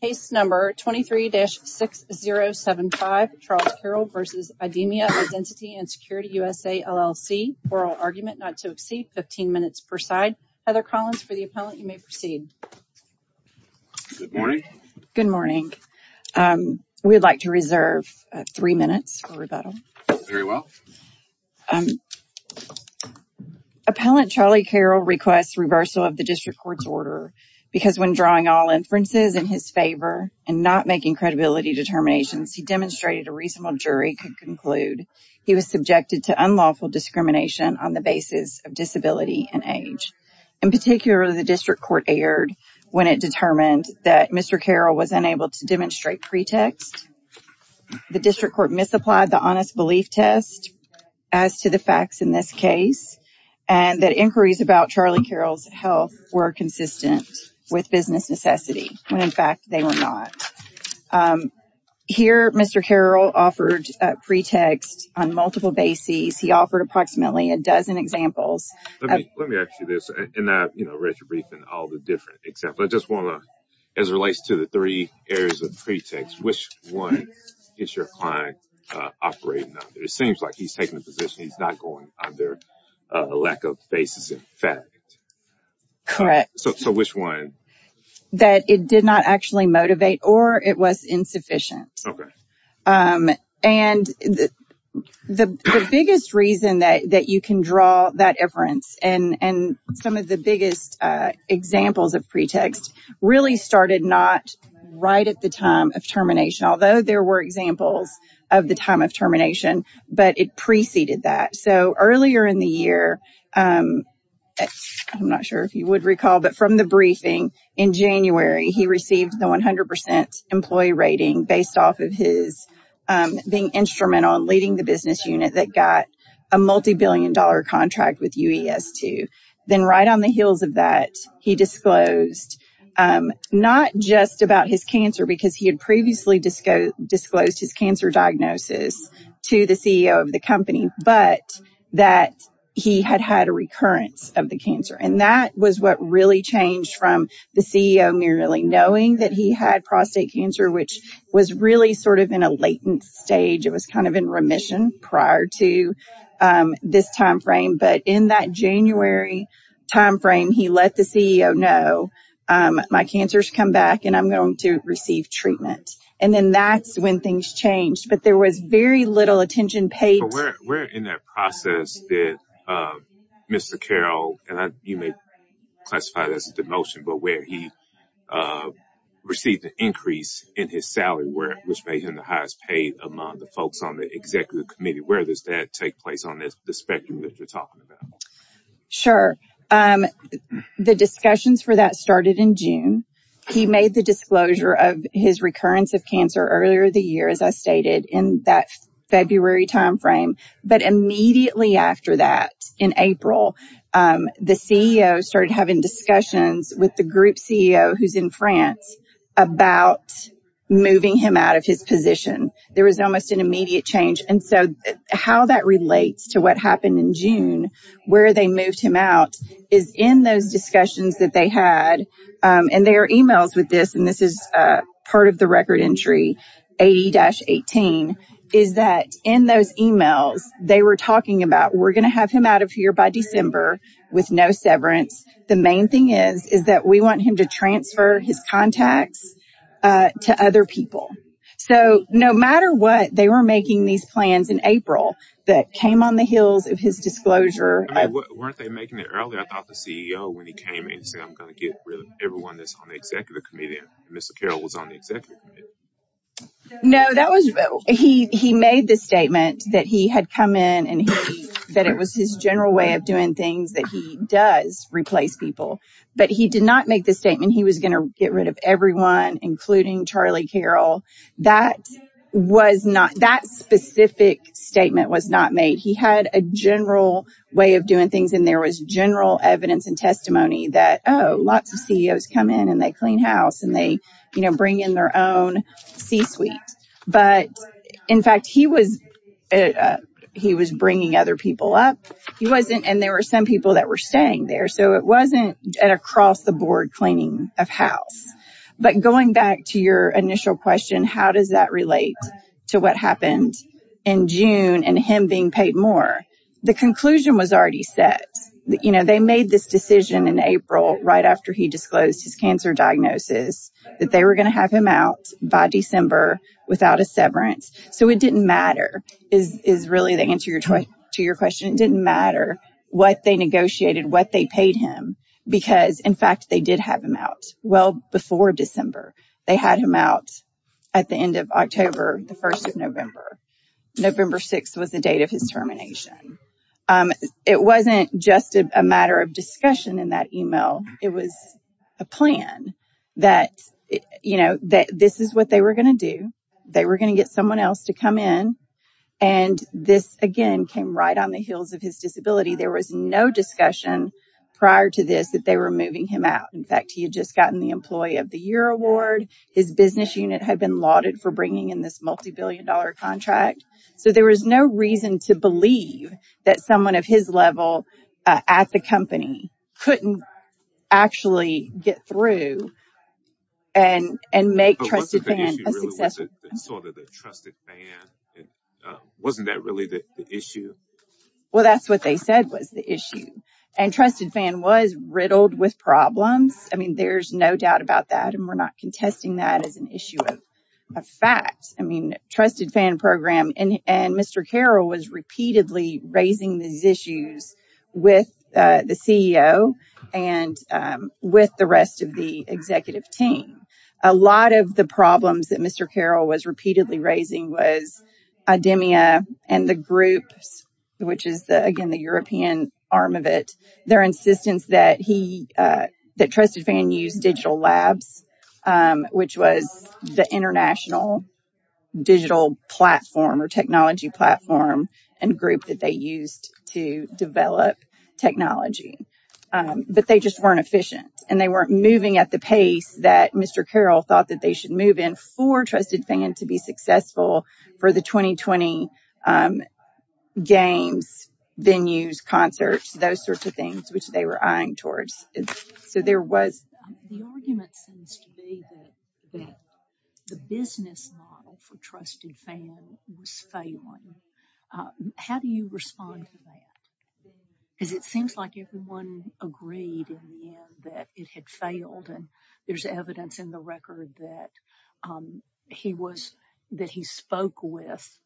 Case number 23-6075, Charles Carroll v. Idemia Identity and Security USA, LLC, Oral Argument Not to Obscene, 15 minutes per side. Heather Collins for the appellant, you may proceed. Good morning. Good morning. We'd like to reserve three minutes for rebuttal. Very well. Appellant Charlie Carroll requests reversal of the district court's order because when drawing all inferences in his favor and not making credibility determinations, he demonstrated a reasonable jury could conclude he was subjected to unlawful discrimination on the basis of disability and age. In particular, the district court erred when it determined that Mr. Carroll was unable to demonstrate pretext. The district court misapplied the honest belief test as to the facts in this case and that inquiries about Charlie Carroll's health were consistent with business necessity when, in fact, they were not. Here, Mr. Carroll offered a pretext on multiple bases. He offered approximately a dozen examples. Let me ask you this, and I've read your brief and all the different examples. I just want to, as it relates to the three areas of pretext, which one is your client operating under? It seems like he's taking a position he's not going under a lack of basis in fact. Correct. So, which one? That it did not actually motivate or it was insufficient. Okay. And the biggest reason that you can draw that inference and some of the biggest examples of pretext really started not right at the time of termination, although there were examples of the time of termination, but it preceded that. So, earlier in the year, I'm not sure if you would recall, but from the briefing in January, he received the 100% employee rating based off of his being instrumental in leading the business unit that got a multi-billion dollar contract with UES2. Then right on the heels of that, he disclosed not just about his cancer because he had previously disclosed his cancer diagnosis to the CEO of the company, but that he had had a recurrence of the cancer. And that was what really changed from the CEO merely knowing that he had prostate cancer, which was really sort of in a latent stage. It was kind of in remission prior to this timeframe. But in that January timeframe, he let the CEO know, my cancer's come back and I'm going to receive treatment. And then that's when things changed, but there was very little attention paid. Where in that process that Mr. Carroll, and you may classify this as a demotion, but where he received an increase in his salary, which made him the highest paid among the folks on the executive committee, where does that take place on the spectrum that you're talking about? Sure. The discussions for that started in June. He made the disclosure of his recurrence of cancer earlier the year, as I stated, in that February timeframe. But immediately after that in April, the CEO started having discussions with the group CEO who's in France about moving him out of his position. There was almost an immediate change. And so how that relates to what happened in June, where they moved him out is in those discussions that they had, and their emails with this, and this is part of the record entry, 80-18, is that in those emails, they were talking about, we're going to have him out of here by December with no severance. The main thing is, is that we want him to transfer his contacts to other people. So no matter what, they were making these plans in April that came on the heels of his disclosure. I mean, weren't they making it earlier? I thought the CEO, when he came in, said, I'm going to get everyone that's on the executive committee, and Mr. Carroll was on the executive committee. No, that was, he made this statement that he had come in and he said it was his general way of doing things that he does replace people. But he did not make the statement he was going to get rid of everyone, including Charlie Carroll. That was not, that specific statement was not made. He had a general way of doing things and there was general evidence and testimony that, oh, lots of CEOs come in and they clean house and they, you know, bring in their own C-suite. But in fact, he was, he was bringing other people up. He wasn't, and there were some people that were staying there. So it wasn't an across-the-board cleaning of house. But going back to your initial question, how does that relate to what happened in June and him being paid more? The conclusion was already set. You know, they made this decision in April, right after he disclosed his cancer diagnosis, that they were going to have him out by December without a severance. So it didn't matter, is really the answer to your question. It didn't matter what they negotiated, what they paid him, because in fact they did have him out well before December. They had him out at the end of October, the 1st of November. November 6th was the date of his termination. It wasn't just a matter of discussion in that email. It was a plan that, you know, that this is what they were going to do. They were going to get someone else to come in. And this again came right on the heels of his disability. There was no discussion prior to this that they were moving him out. In fact, he had just gotten the Employee of the Year Award. His business unit had been lauded for bringing in this multi-billion dollar contract. So there was no reason to believe that someone of his level at the company couldn't actually get through and make Trusted Fan a successful... But wasn't the issue really was it sort of the Trusted Fan? Wasn't that really the issue? Well, that's what they said was the issue. And Trusted Fan was riddled with problems. I mean, there's no doubt about that. And we're not contesting that as an issue of fact. I mean, Trusted Fan program and Mr. Carroll was repeatedly raising these issues with the CEO and with the rest of the executive team. A lot of the problems that Mr. Carroll was repeatedly raising was idemia and the groups, which is again the European arm of it, their insistence that Trusted Fan use digital labs, which was the international digital platform or technology platform and group that they used to develop technology. But they just weren't efficient and they weren't moving at the pace that Mr. Carroll thought that they should move in for Trusted Fan to be successful for the 2020 games, venues, concerts, those sorts of things, which they were eyeing towards. So there was... The argument seems to be that the business model for Trusted Fan was failing. How do you respond to that? Because it seems like everyone agreed in the end that it had failed and there's evidence in the record that he spoke with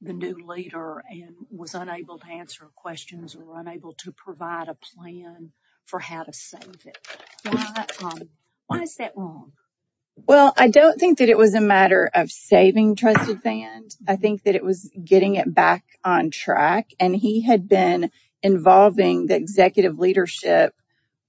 the new leader and was unable to answer questions or unable to provide a plan for how to save it. Why is that wrong? Well, I don't think that it was a matter of saving Trusted Fan. I think that it was getting it back on track. And he had been involving the executive leadership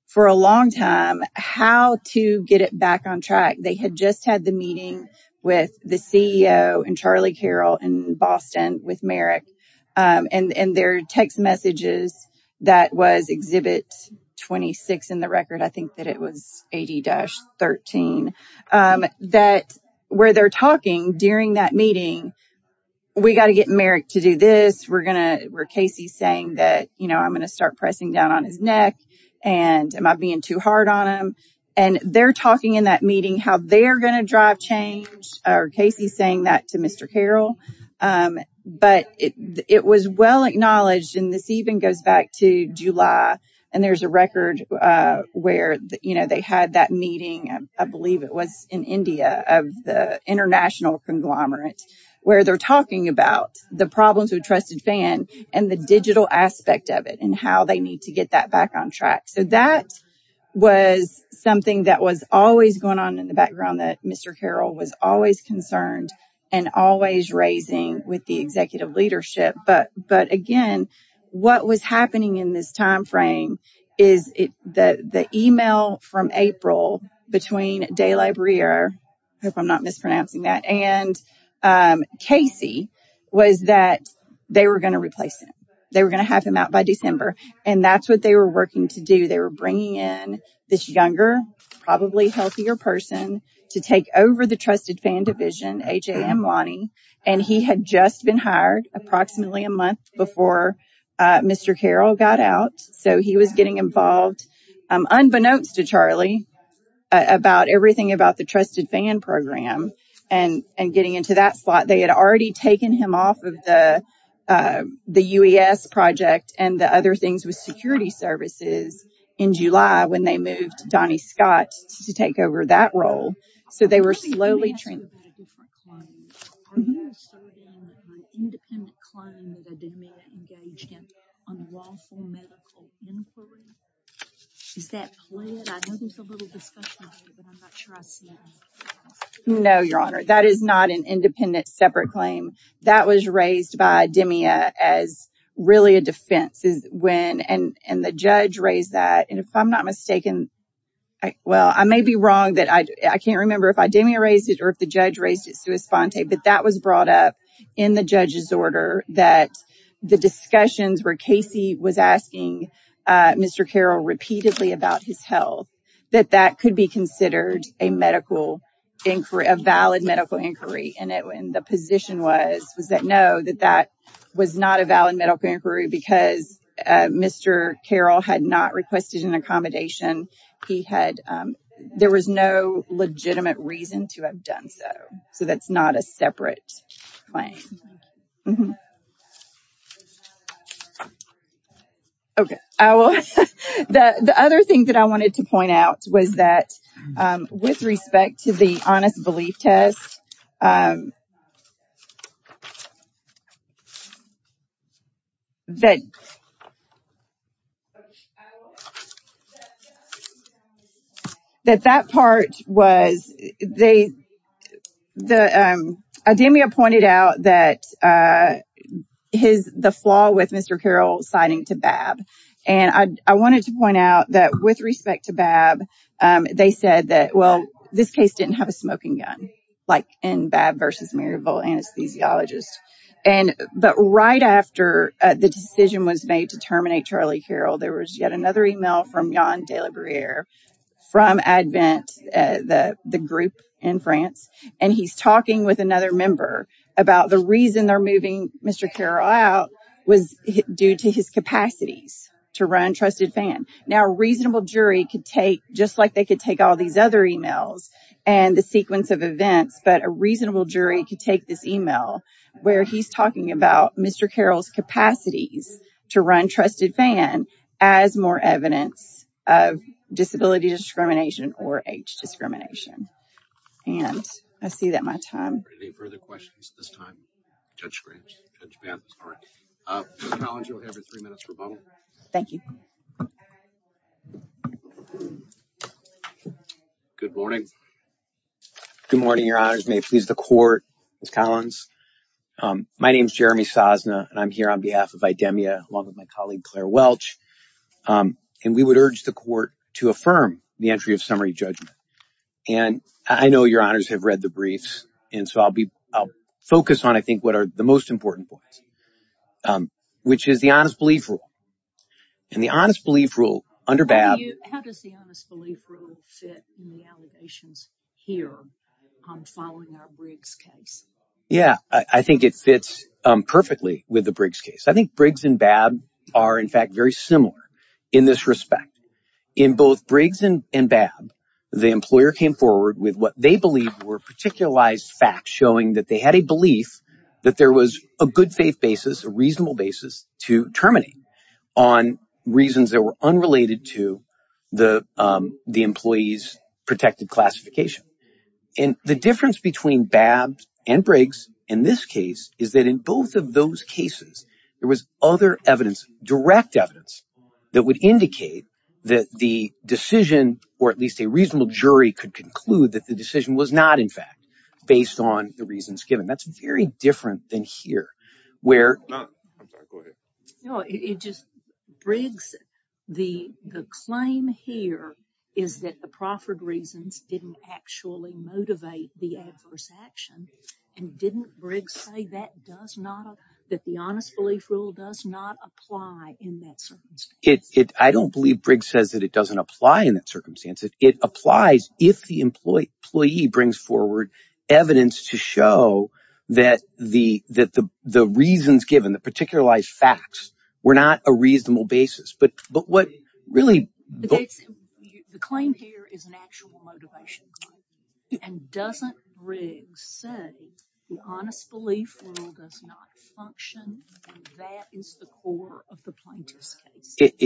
for a long time, how to get it back on track. They had just had the meeting with the CEO and Charlie Carroll in Boston with Merrick and their text messages that was Exhibit 26 in the record. I think that it was 80-13, that where they're talking during that meeting, we got to get Merrick to do this. We're going to... Where Casey's saying that, you know, I'm going to start pressing down on his neck and am I being too hard on him? And they're talking in that meeting how they're going to drive change. Casey's saying that to Mr. Carroll. But it was well acknowledged, and this even goes back to July, and there's a record where, you know, they had that meeting, I believe it was in India, of the international conglomerate, where they're talking about the problems with Trusted Fan and the digital aspect of it and how they need to get that back on track. So that was something that was always going on in the background that Mr. Carroll was always concerned and always raising with the executive leadership. But again, what was happening in this timeframe is the email from April between De La Brea, hope I'm not mispronouncing that, and Casey, was that they were going to replace him. They were going to have him out by December. And that's what they were working to do. They were bringing in this younger, probably healthier person to take over the Trusted Fan division, A. J. M. Lonnie, and he had just been hired approximately a month before Mr. Carroll got out. So he was getting involved, unbeknownst to Charlie, about everything about the Trusted Fan program and getting into that spot. They had already taken him off of the UES project and the other things with security services in July when they moved Donnie Scott to take over that role. So they were slowly training. Are you asserting an independent claim that Idemia engaged in unlawful medical inquiry? Is that clear? I know there's a little discussion here, but I'm not sure I see it. No, Your Honor. That is not an independent, separate claim. That was raised by Idemia as really a defense. And the judge raised that. And if I'm not mistaken, well, I may be wrong. I can't remember if Idemia raised it or if the judge raised it, but that was brought up in the judge's order that the discussions where Casey was asking Mr. Carroll repeatedly about his health, that that could be considered a medical inquiry, a valid medical inquiry. And the position was that no, that that was not a valid medical inquiry because Mr. Carroll had not requested an accommodation. There was no legitimate reason to have done so. So that's not a separate claim. Okay. The other thing that I wanted to point out was that with respect to the honest belief test, that that part was, they, the, Idemia pointed out that his, the flaw with Mr. Carroll citing to Babb. And I wanted to point out that with respect to Babb, they said that, well, this case didn't have a smoking gun, like in Babb versus Maryville anesthesiologist. And, but right after the decision was made to terminate Charlie Carroll, there was yet another email from Yann Delabriere from ADVENT, the group in France. And he's talking with another member about the reason they're moving Mr. Carroll out was due to his capacities to run Trusted Fan. Now, a reasonable jury could take, just like they could take all these other emails and the sequence of events, but a reasonable jury could take this email where he's talking about Mr. Carroll's capacities to run Trusted Fan as more evidence of disability discrimination or age discrimination. And I see that my time. Any further questions at this time? Judge Gramps, Judge Bant, sorry. Ms. Collins, you'll have your three minutes rebuttal. Thank you. Good morning. Good morning, your honors. May it please the court, Ms. Collins. My name is Jeremy Sosna and I'm here on behalf of Idemia along with my colleague, Claire Welch. And we would urge the court to affirm the entry of summary judgment. And I know your honors have read the briefs. So I'll focus on, I think, what are the most important points, which is the Honest Belief Rule and the Honest Belief Rule under BAB. How does the Honest Belief Rule fit in the allegations here following our Briggs case? Yeah, I think it fits perfectly with the Briggs case. I think Briggs and BAB are, in fact, very similar in this respect. In both Briggs and BAB, the employer came forward with what they believe were particularized facts showing that they had a belief that there was a good faith basis, a reasonable basis to terminate on reasons that were unrelated to the employee's protected classification. And the difference between BAB and Briggs in this case is that in both of those cases, there was other evidence, direct evidence, that would indicate that the decision, or at least a reasonable jury, could conclude that the decision was not, in fact, based on the reasons given. That's very different than here, where... I'm sorry, go ahead. No, it just, Briggs, the claim here is that the proffered reasons didn't actually motivate the adverse action. And didn't Briggs say that the honest belief rule does not apply in that circumstance? I don't believe Briggs says that it doesn't apply in that circumstance. It applies if the employee brings forward evidence to show that the reasons given, the particularized facts, were not a reasonable reason. It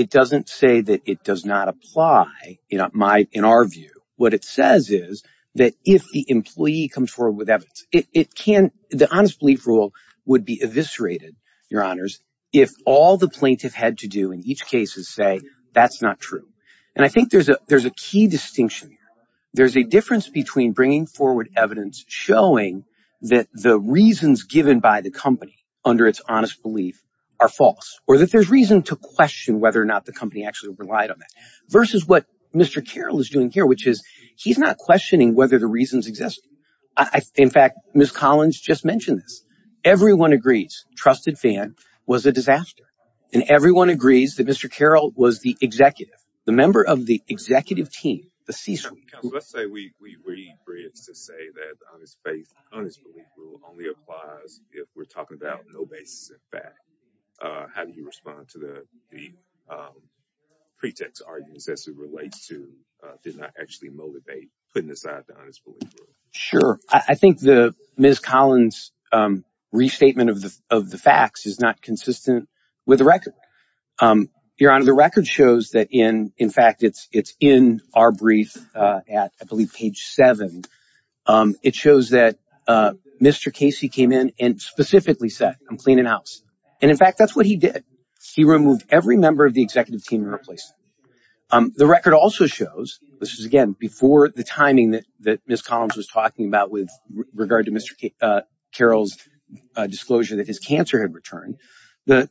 doesn't say that it does not apply in our view. What it says is that if the employee comes forward with evidence, the honest belief rule would be eviscerated, Your Honors, if all the plaintiff had to do in each case is say, that's not true. And I think there's a key distinction there's a difference between bringing forward evidence showing that the reasons given by the company under its honest belief are false, or that there's reason to question whether or not the company actually relied on that, versus what Mr. Carroll is doing here, which is he's not questioning whether the reasons exist. In fact, Ms. Collins just mentioned this. Everyone agrees Trusted Fan was a disaster. And everyone agrees that Mr. Carroll was the executive, the member of the executive team. Let's say we read Briggs to say that the honest belief rule only applies if we're talking about no basis in fact. How do you respond to the pretext arguments as it relates to did not actually motivate putting aside the honest belief rule? Sure. I think the Ms. Collins restatement of the facts is not consistent with the record. Your Honor, the record shows that in fact, it's in our brief at I believe page seven. It shows that Mr. Casey came in and specifically said, I'm cleaning house. And in fact, that's what he did. He removed every member of the executive team and replaced them. The record also shows, this is again before the timing that Ms. Collins was talking about with regard to Mr. Carroll's disclosure that his cancer had returned. The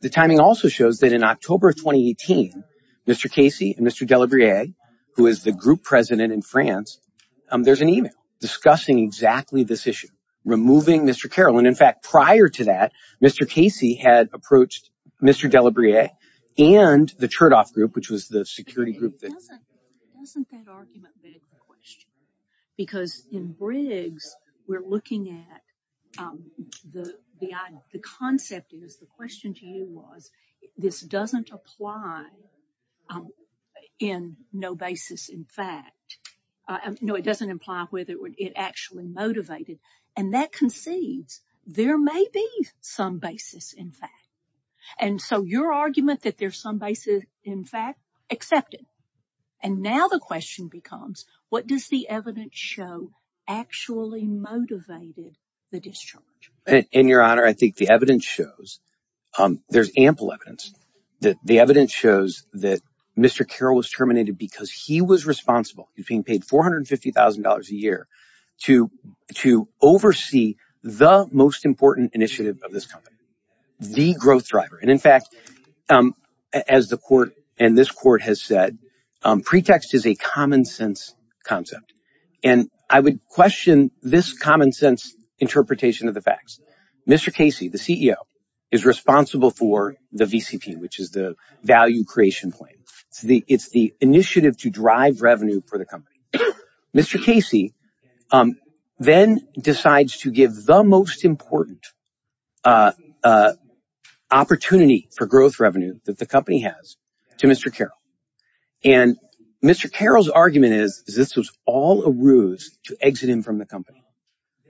who is the group president in France. There's an email discussing exactly this issue, removing Mr. Carroll. And in fact, prior to that, Mr. Casey had approached Mr. Delabriere and the Chertoff group, which was the security group. Because in Briggs, we're looking at the concept is the question to you was this doesn't apply in no basis. In fact, no, it doesn't imply whether it actually motivated and that concedes there may be some basis in fact. And so your argument that there's some basis in fact accepted. And now the question becomes, what does the evidence show actually motivated the discharge? In your honor, I think the evidence shows there's ample evidence that the evidence shows that Mr. Carroll was terminated because he was responsible. He's being paid $450,000 a year to oversee the most important initiative of this company, the growth driver. And in fact, as the court and this court has said, pretext is a common sense concept. And I would question this common sense interpretation of the facts. Mr. Casey, the CEO is responsible for the VCP, which is the creation plan. It's the initiative to drive revenue for the company. Mr. Casey then decides to give the most important opportunity for growth revenue that the company has to Mr. Carroll. And Mr. Carroll's argument is this was all a ruse to exit him from the company.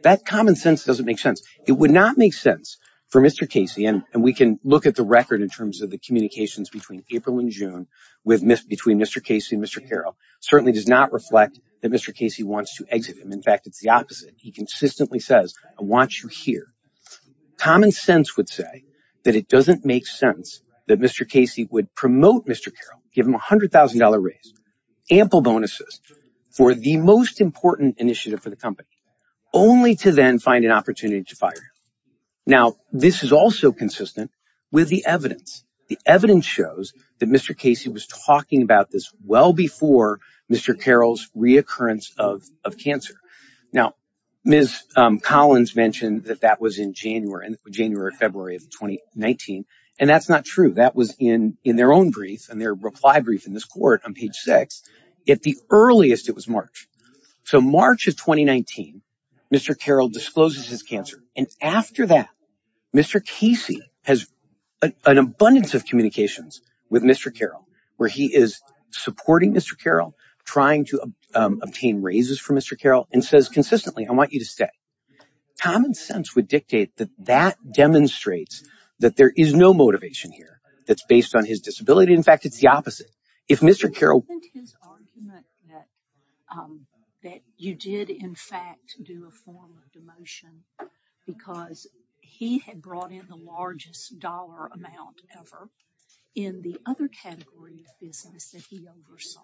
That common sense doesn't make sense. It would not make sense for Mr. Casey. And we can look at the record in terms of the communications between April and June between Mr. Casey and Mr. Carroll. It certainly does not reflect that Mr. Casey wants to exit him. In fact, it's the opposite. He consistently says, I want you here. Common sense would say that it doesn't make sense that Mr. Casey would promote Mr. Carroll, give him a $100,000 raise, ample bonuses for the most important initiative for the company, only to then find an opportunity to fire him. Now, this is also consistent with the evidence. The evidence shows that Mr. Casey was talking about this well before Mr. Carroll's reoccurrence of cancer. Now, Ms. Collins mentioned that that was in January and January or February of 2019. And that's not true. That was in their own brief and their reply brief in this court on page six. At the earliest, it was March. So March of 2019, Mr. Carroll discloses his cancer. And an abundance of communications with Mr. Carroll, where he is supporting Mr. Carroll, trying to obtain raises for Mr. Carroll, and says consistently, I want you to stay. Common sense would dictate that that demonstrates that there is no motivation here that's based on his disability. In fact, it's the opposite. If Mr. Carroll... Isn't his argument that you did, in fact, do a form of demotion, because he had brought in the largest dollar amount ever in the other category of business that he oversaw.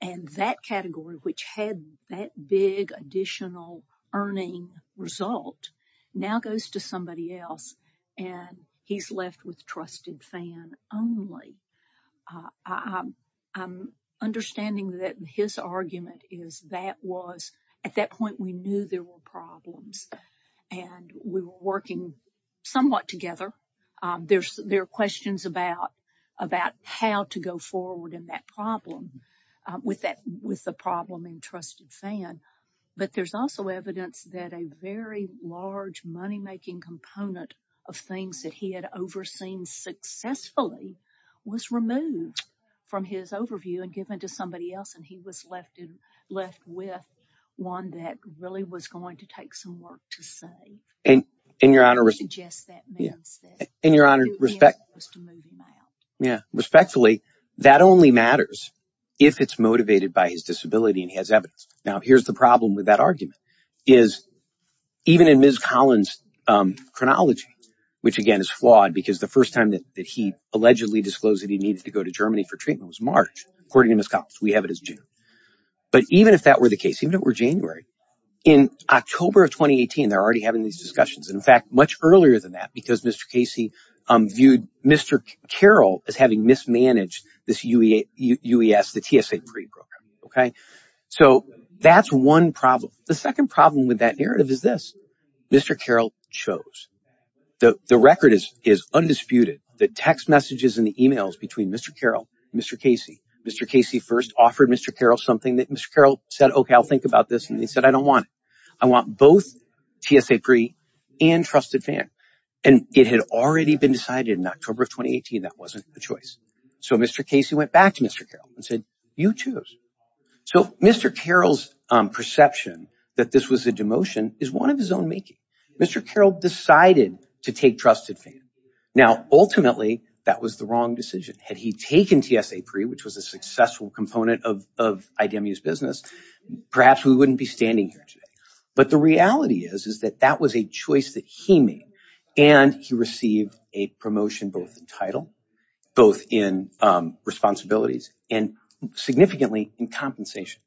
And that category, which had that big additional earning result, now goes to somebody else. And he's left with trusted fan only. I'm understanding that his argument is that was... At that point, we knew there were problems and we were working somewhat together. There are questions about how to go forward in that problem with the problem in trusted fan. But there's also evidence that a very large moneymaking component of things that he had overseen successfully was removed from his overview and given to somebody else. And he was left with one that really was going to take some work to say. And in your honor, respect... Yeah, respectfully, that only matters if it's motivated by his disability and he has evidence. Now, here's the problem with that argument is even in Ms. Collins' chronology, which again is flawed because the first time that he allegedly disclosed that he needed to go to Germany for treatment was according to Ms. Collins. We have it as June. But even if that were the case, even if it were January, in October of 2018, they're already having these discussions. And in fact, much earlier than that, because Mr. Casey viewed Mr. Carroll as having mismanaged this UES, the TSA pre-program. So that's one problem. The second problem with that narrative is this. Mr. Carroll chose. The record is undisputed. The text messages and the emails between Mr. Carroll, Mr. Casey, first offered Mr. Carroll something that Mr. Carroll said, okay, I'll think about this. And he said, I don't want it. I want both TSA pre and trusted FAN. And it had already been decided in October of 2018, that wasn't the choice. So Mr. Casey went back to Mr. Carroll and said, you choose. So Mr. Carroll's perception that this was a demotion is one of his own making. Mr. Carroll decided to take trusted FAN. Now, ultimately that was the wrong decision. Had he taken TSA pre, which was a successful component of IDMU's business, perhaps we wouldn't be standing here today. But the reality is, is that that was a choice that he made and he received a promotion, both in title, both in responsibilities and significantly in compensation.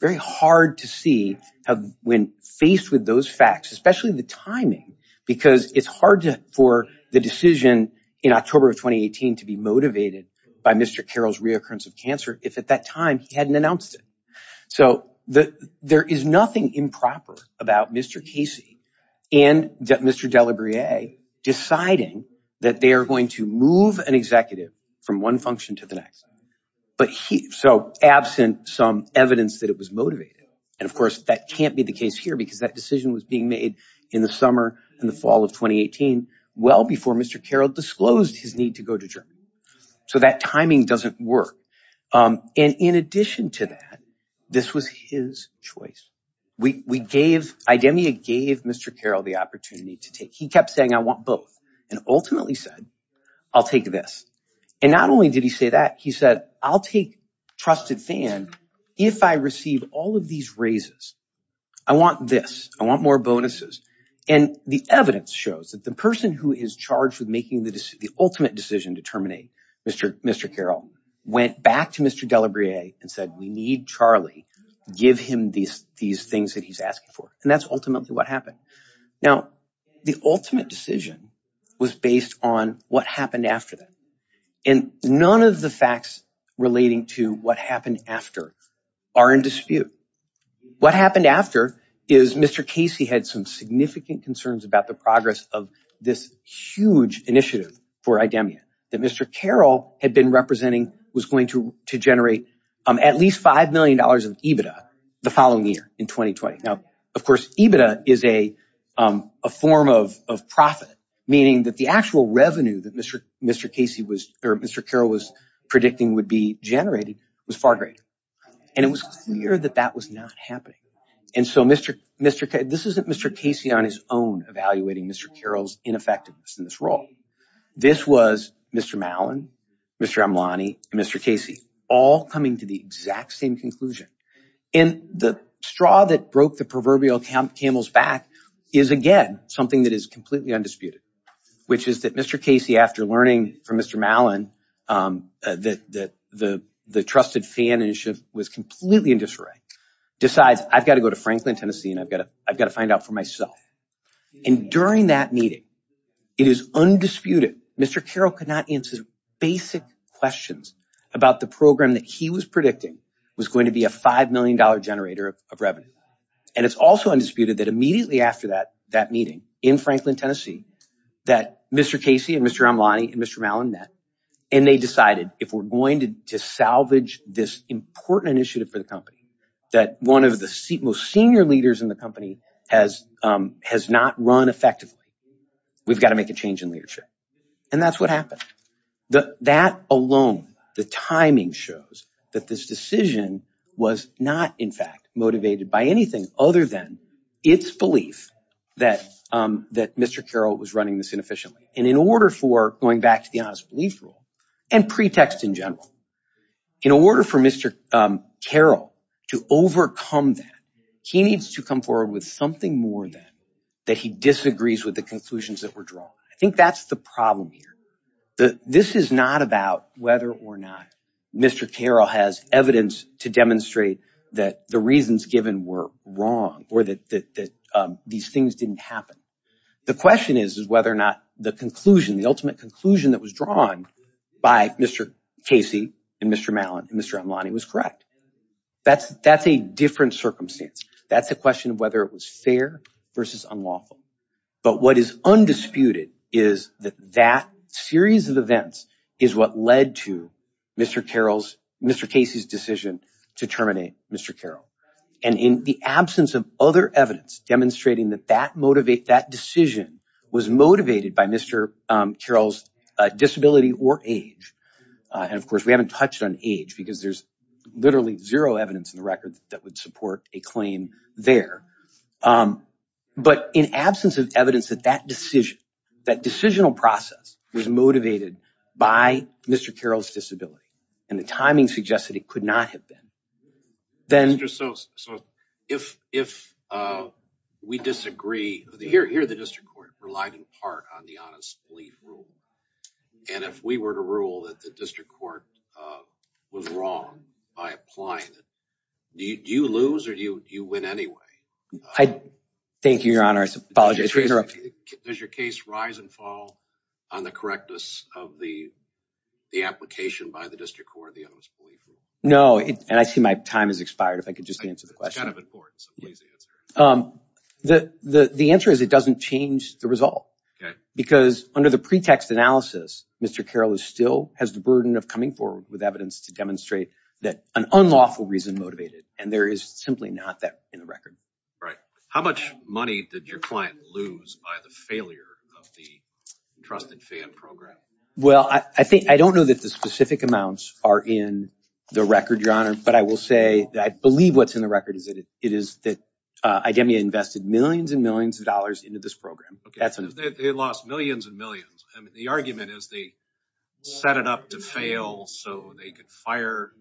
Very hard to see when faced with those facts, especially the timing, because it's hard for the decision in October of 2018 to be motivated by Mr. Carroll's reoccurrence of cancer, if at that time he hadn't announced it. So there is nothing improper about Mr. Casey and Mr. Delabriere deciding that they are going to move an executive from one function to the next. So absent some evidence that it was motivated, and of course that can't be the case here because that decision was being made in the summer and the fall of 2018, well before Mr. Carroll disclosed his need to go to Germany. So that timing doesn't work. And in addition to that, this was his choice. IDEMIA gave Mr. Carroll the opportunity to take, he kept saying, I want both, and ultimately said, I'll take this. And not only did he say that, he said, I'll take trusted FAN if I receive all of these raises, I want this, I want more bonuses. And the evidence shows that the person who is charged with making the ultimate decision to terminate Mr. Carroll went back to Mr. Delabriere and said, we need Charlie, give him these things that he's asking for. And that's ultimately what happened. Now, the ultimate decision was based on what happened after that. And none of the facts relating to what happened after are in dispute. What happened after is Mr. Casey had some significant concerns about the progress of this huge initiative for IDEMIA that Mr. Carroll had been representing was going to generate at least $5 million of EBITDA the following year in 2020. Now, of course, EBITDA is a form of profit, meaning that the actual revenue that Mr. Carroll was predicting would be generating was far greater. And it was clear that that was not happening. And so this isn't Mr. Casey on his own evaluating Mr. Carroll's ineffectiveness in this role. This was Mr. Mallon, Mr. Amlani, and Mr. Casey all coming to the exact same conclusion. And the straw that broke the proverbial camel's back is again, something that is completely undisputed, which is that Mr. Casey, after learning from Mr. Mallon, that the trusted fan was completely in disarray, decides I've got to go to Franklin, Tennessee, and I've got to find out for myself. And during that meeting, it is undisputed, Mr. Carroll could not answer basic questions about the program that he was predicting was going to be a $5 million generator of revenue. And it's also undisputed that immediately after that meeting in Franklin, Tennessee, that Mr. Casey and Mr. Amlani and Mr. Mallon met, and they decided if we're going to salvage this important initiative for the company, that one of the most senior leaders in the company has not run effectively, we've got to make a change in leadership. And that's what happened. That alone, the timing shows that this decision was not in fact motivated by anything other than its belief that Mr. Carroll was running this inefficiently. And in order for, going back to the honest belief rule, and pretext in general, in order for Mr. Carroll to overcome that, he needs to come forward with something more than that he disagrees with the conclusions that were drawn. I think that's the problem here. This is not about whether or not Mr. Carroll has evidence to demonstrate that the reasons given were wrong or that these things didn't happen. The question is whether or not the conclusion, the ultimate conclusion that was drawn by Mr. Casey and Mr. Mallon and Mr. Amlani was correct. That's a different circumstance. That's a question of whether it was fair versus unlawful. But what is undisputed is that that series of events is what led to Mr. Carroll's, Mr. Casey's decision to terminate Mr. Carroll. And in the absence of other evidence demonstrating that that decision was motivated by Mr. Carroll's disability or age, and of course we haven't touched on age because there's literally zero evidence in the record that would support a claim there. But in absence of evidence that that decision, that decisional process was motivated by Mr. Carroll's disability and the timing suggests that it could not have been, then... Mr. So, if we disagree, here the district court relied in part on the honest belief rule. And if we were to rule that the district court was wrong by applying it, do you lose or do you win anyway? Thank you, your honor. I apologize for interrupting. Does your case rise and fall on the correctness of the application by the district court, the honest belief rule? No, and I see my time has expired. If I could just answer the question. It's kind of important, so please answer. The answer is it doesn't change the result. Because under the pretext analysis, Mr. Carroll still has the burden of coming forward with to demonstrate that an unlawful reason motivated, and there is simply not that in the record. Right. How much money did your client lose by the failure of the entrusted fan program? Well, I don't know that the specific amounts are in the record, your honor, but I will say that I believe what's in the record is that it is that IDEMIA invested millions and millions of dollars into this program. They lost millions and millions. I mean, the argument is they set it up to fail so they could fire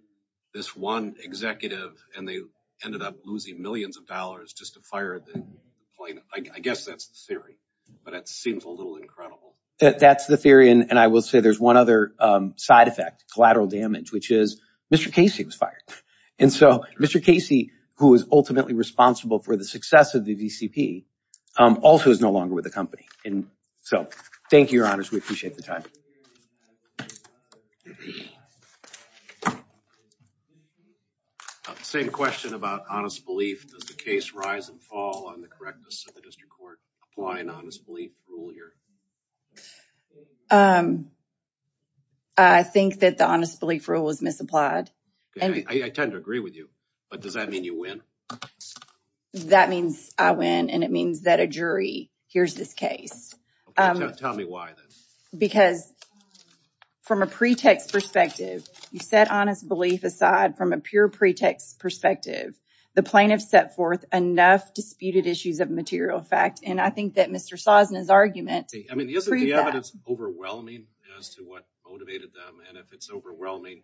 this one executive and they ended up losing millions of dollars just to fire the plaintiff. I guess that's the theory, but it seems a little incredible. That's the theory. And I will say there's one other side effect, collateral damage, which is Mr. Casey was fired. And so Mr. Casey, who is ultimately responsible for the success of the DCP, also is no longer with the company. So thank you, your honors. We appreciate the time. Same question about honest belief. Does the case rise and fall on the correctness of the district court applying honest belief rule here? I think that the honest belief rule was misapplied. I tend to agree with you, but does that mean you win? That means I win and it means that a jury hears this case. Tell me why then. Because from a pretext perspective, you set honest belief aside from a pure pretext perspective. The plaintiff set forth enough disputed issues of material fact. And I think that Mr. Sosna's argument... I mean, isn't the evidence overwhelming as to what motivated them? And if it's your argument,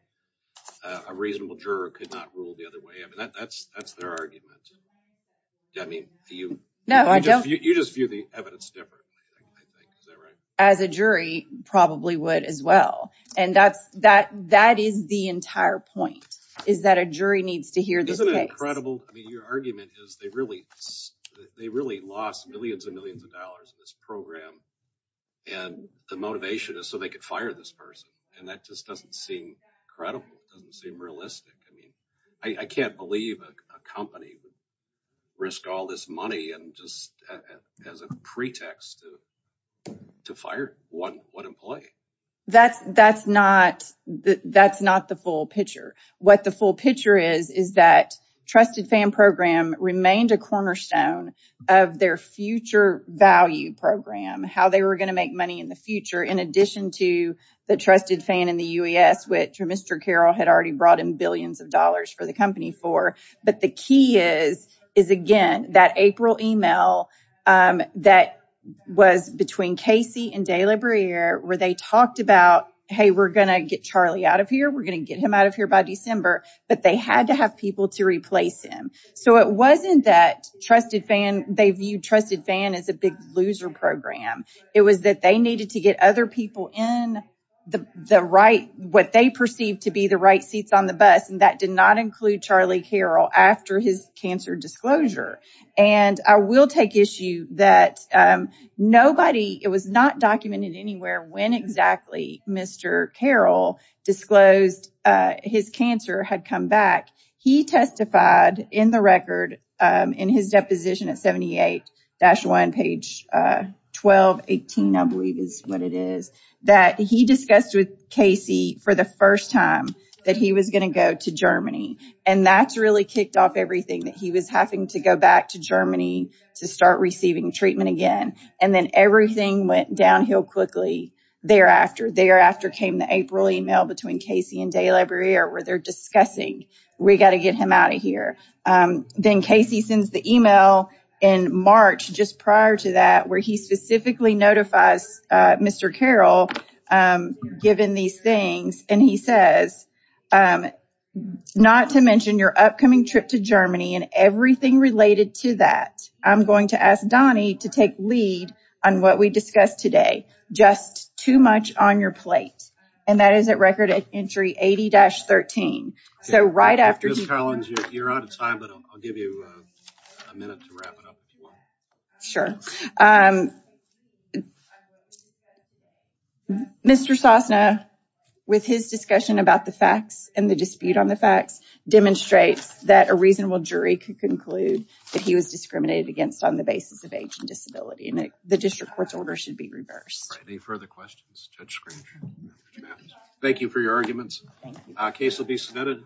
I mean, you just view the evidence differently, I think. Is that right? As a jury probably would as well. And that is the entire point, is that a jury needs to hear this case. Isn't it incredible? I mean, your argument is they really lost millions and millions of dollars in this program. And the motivation is so they could fire this person. And that just doesn't seem credible. It doesn't seem realistic. I mean, I can't believe a company would risk all this money and just as a pretext to fire one employee. That's not the full picture. What the full picture is, is that Trusted Fan Program remained a cornerstone of their future value program, how they were going to make money in the future, in addition to the Trusted Fan and the UAS, which Mr. Carroll had already brought in billions of dollars for the company for. But the key is, again, that April email that was between Casey and De La Brea, where they talked about, hey, we're going to get Charlie out of here. We're going to get him out of here by December. But they had to have people to replace him. So it wasn't that they viewed Trusted Fan as a big loser program. It was that they needed to get other people in the right, what they perceived to be the right seats on the bus. And that did not include Charlie Carroll after his cancer disclosure. And I will take issue that nobody, it was not documented anywhere when exactly Mr. Carroll disclosed his cancer had come back. He testified in the record, in his deposition at 78-1, page 1218, I believe is what it is, that he discussed with Casey for the first time that he was going to go to Germany. And that's really kicked off everything that he was having to go back to Germany to start receiving treatment again. And then everything went downhill quickly. Thereafter came the April email between Casey and De La Brea, where they're discussing, we got to get him out of here. Then Casey sends the email in March, just prior to that, where he specifically notifies Mr. Carroll, given these things, and he says, not to mention your upcoming trip to Germany and everything related to that. I'm going to ask Donnie to take lead on what we discussed today, just too much on your plate. And that is at record entry 80-13. So right after... Ms. Collins, you're out of time, but I'll give you a minute to wrap it up. Sure. Mr. Sosna, with his discussion about the facts and the dispute on the facts, demonstrates that a reasonable jury could conclude that he was discriminated against on the basis of disability. And the district court's order should be reversed. Any further questions, Judge Scrooge? Thank you for your arguments. Case will be submitted.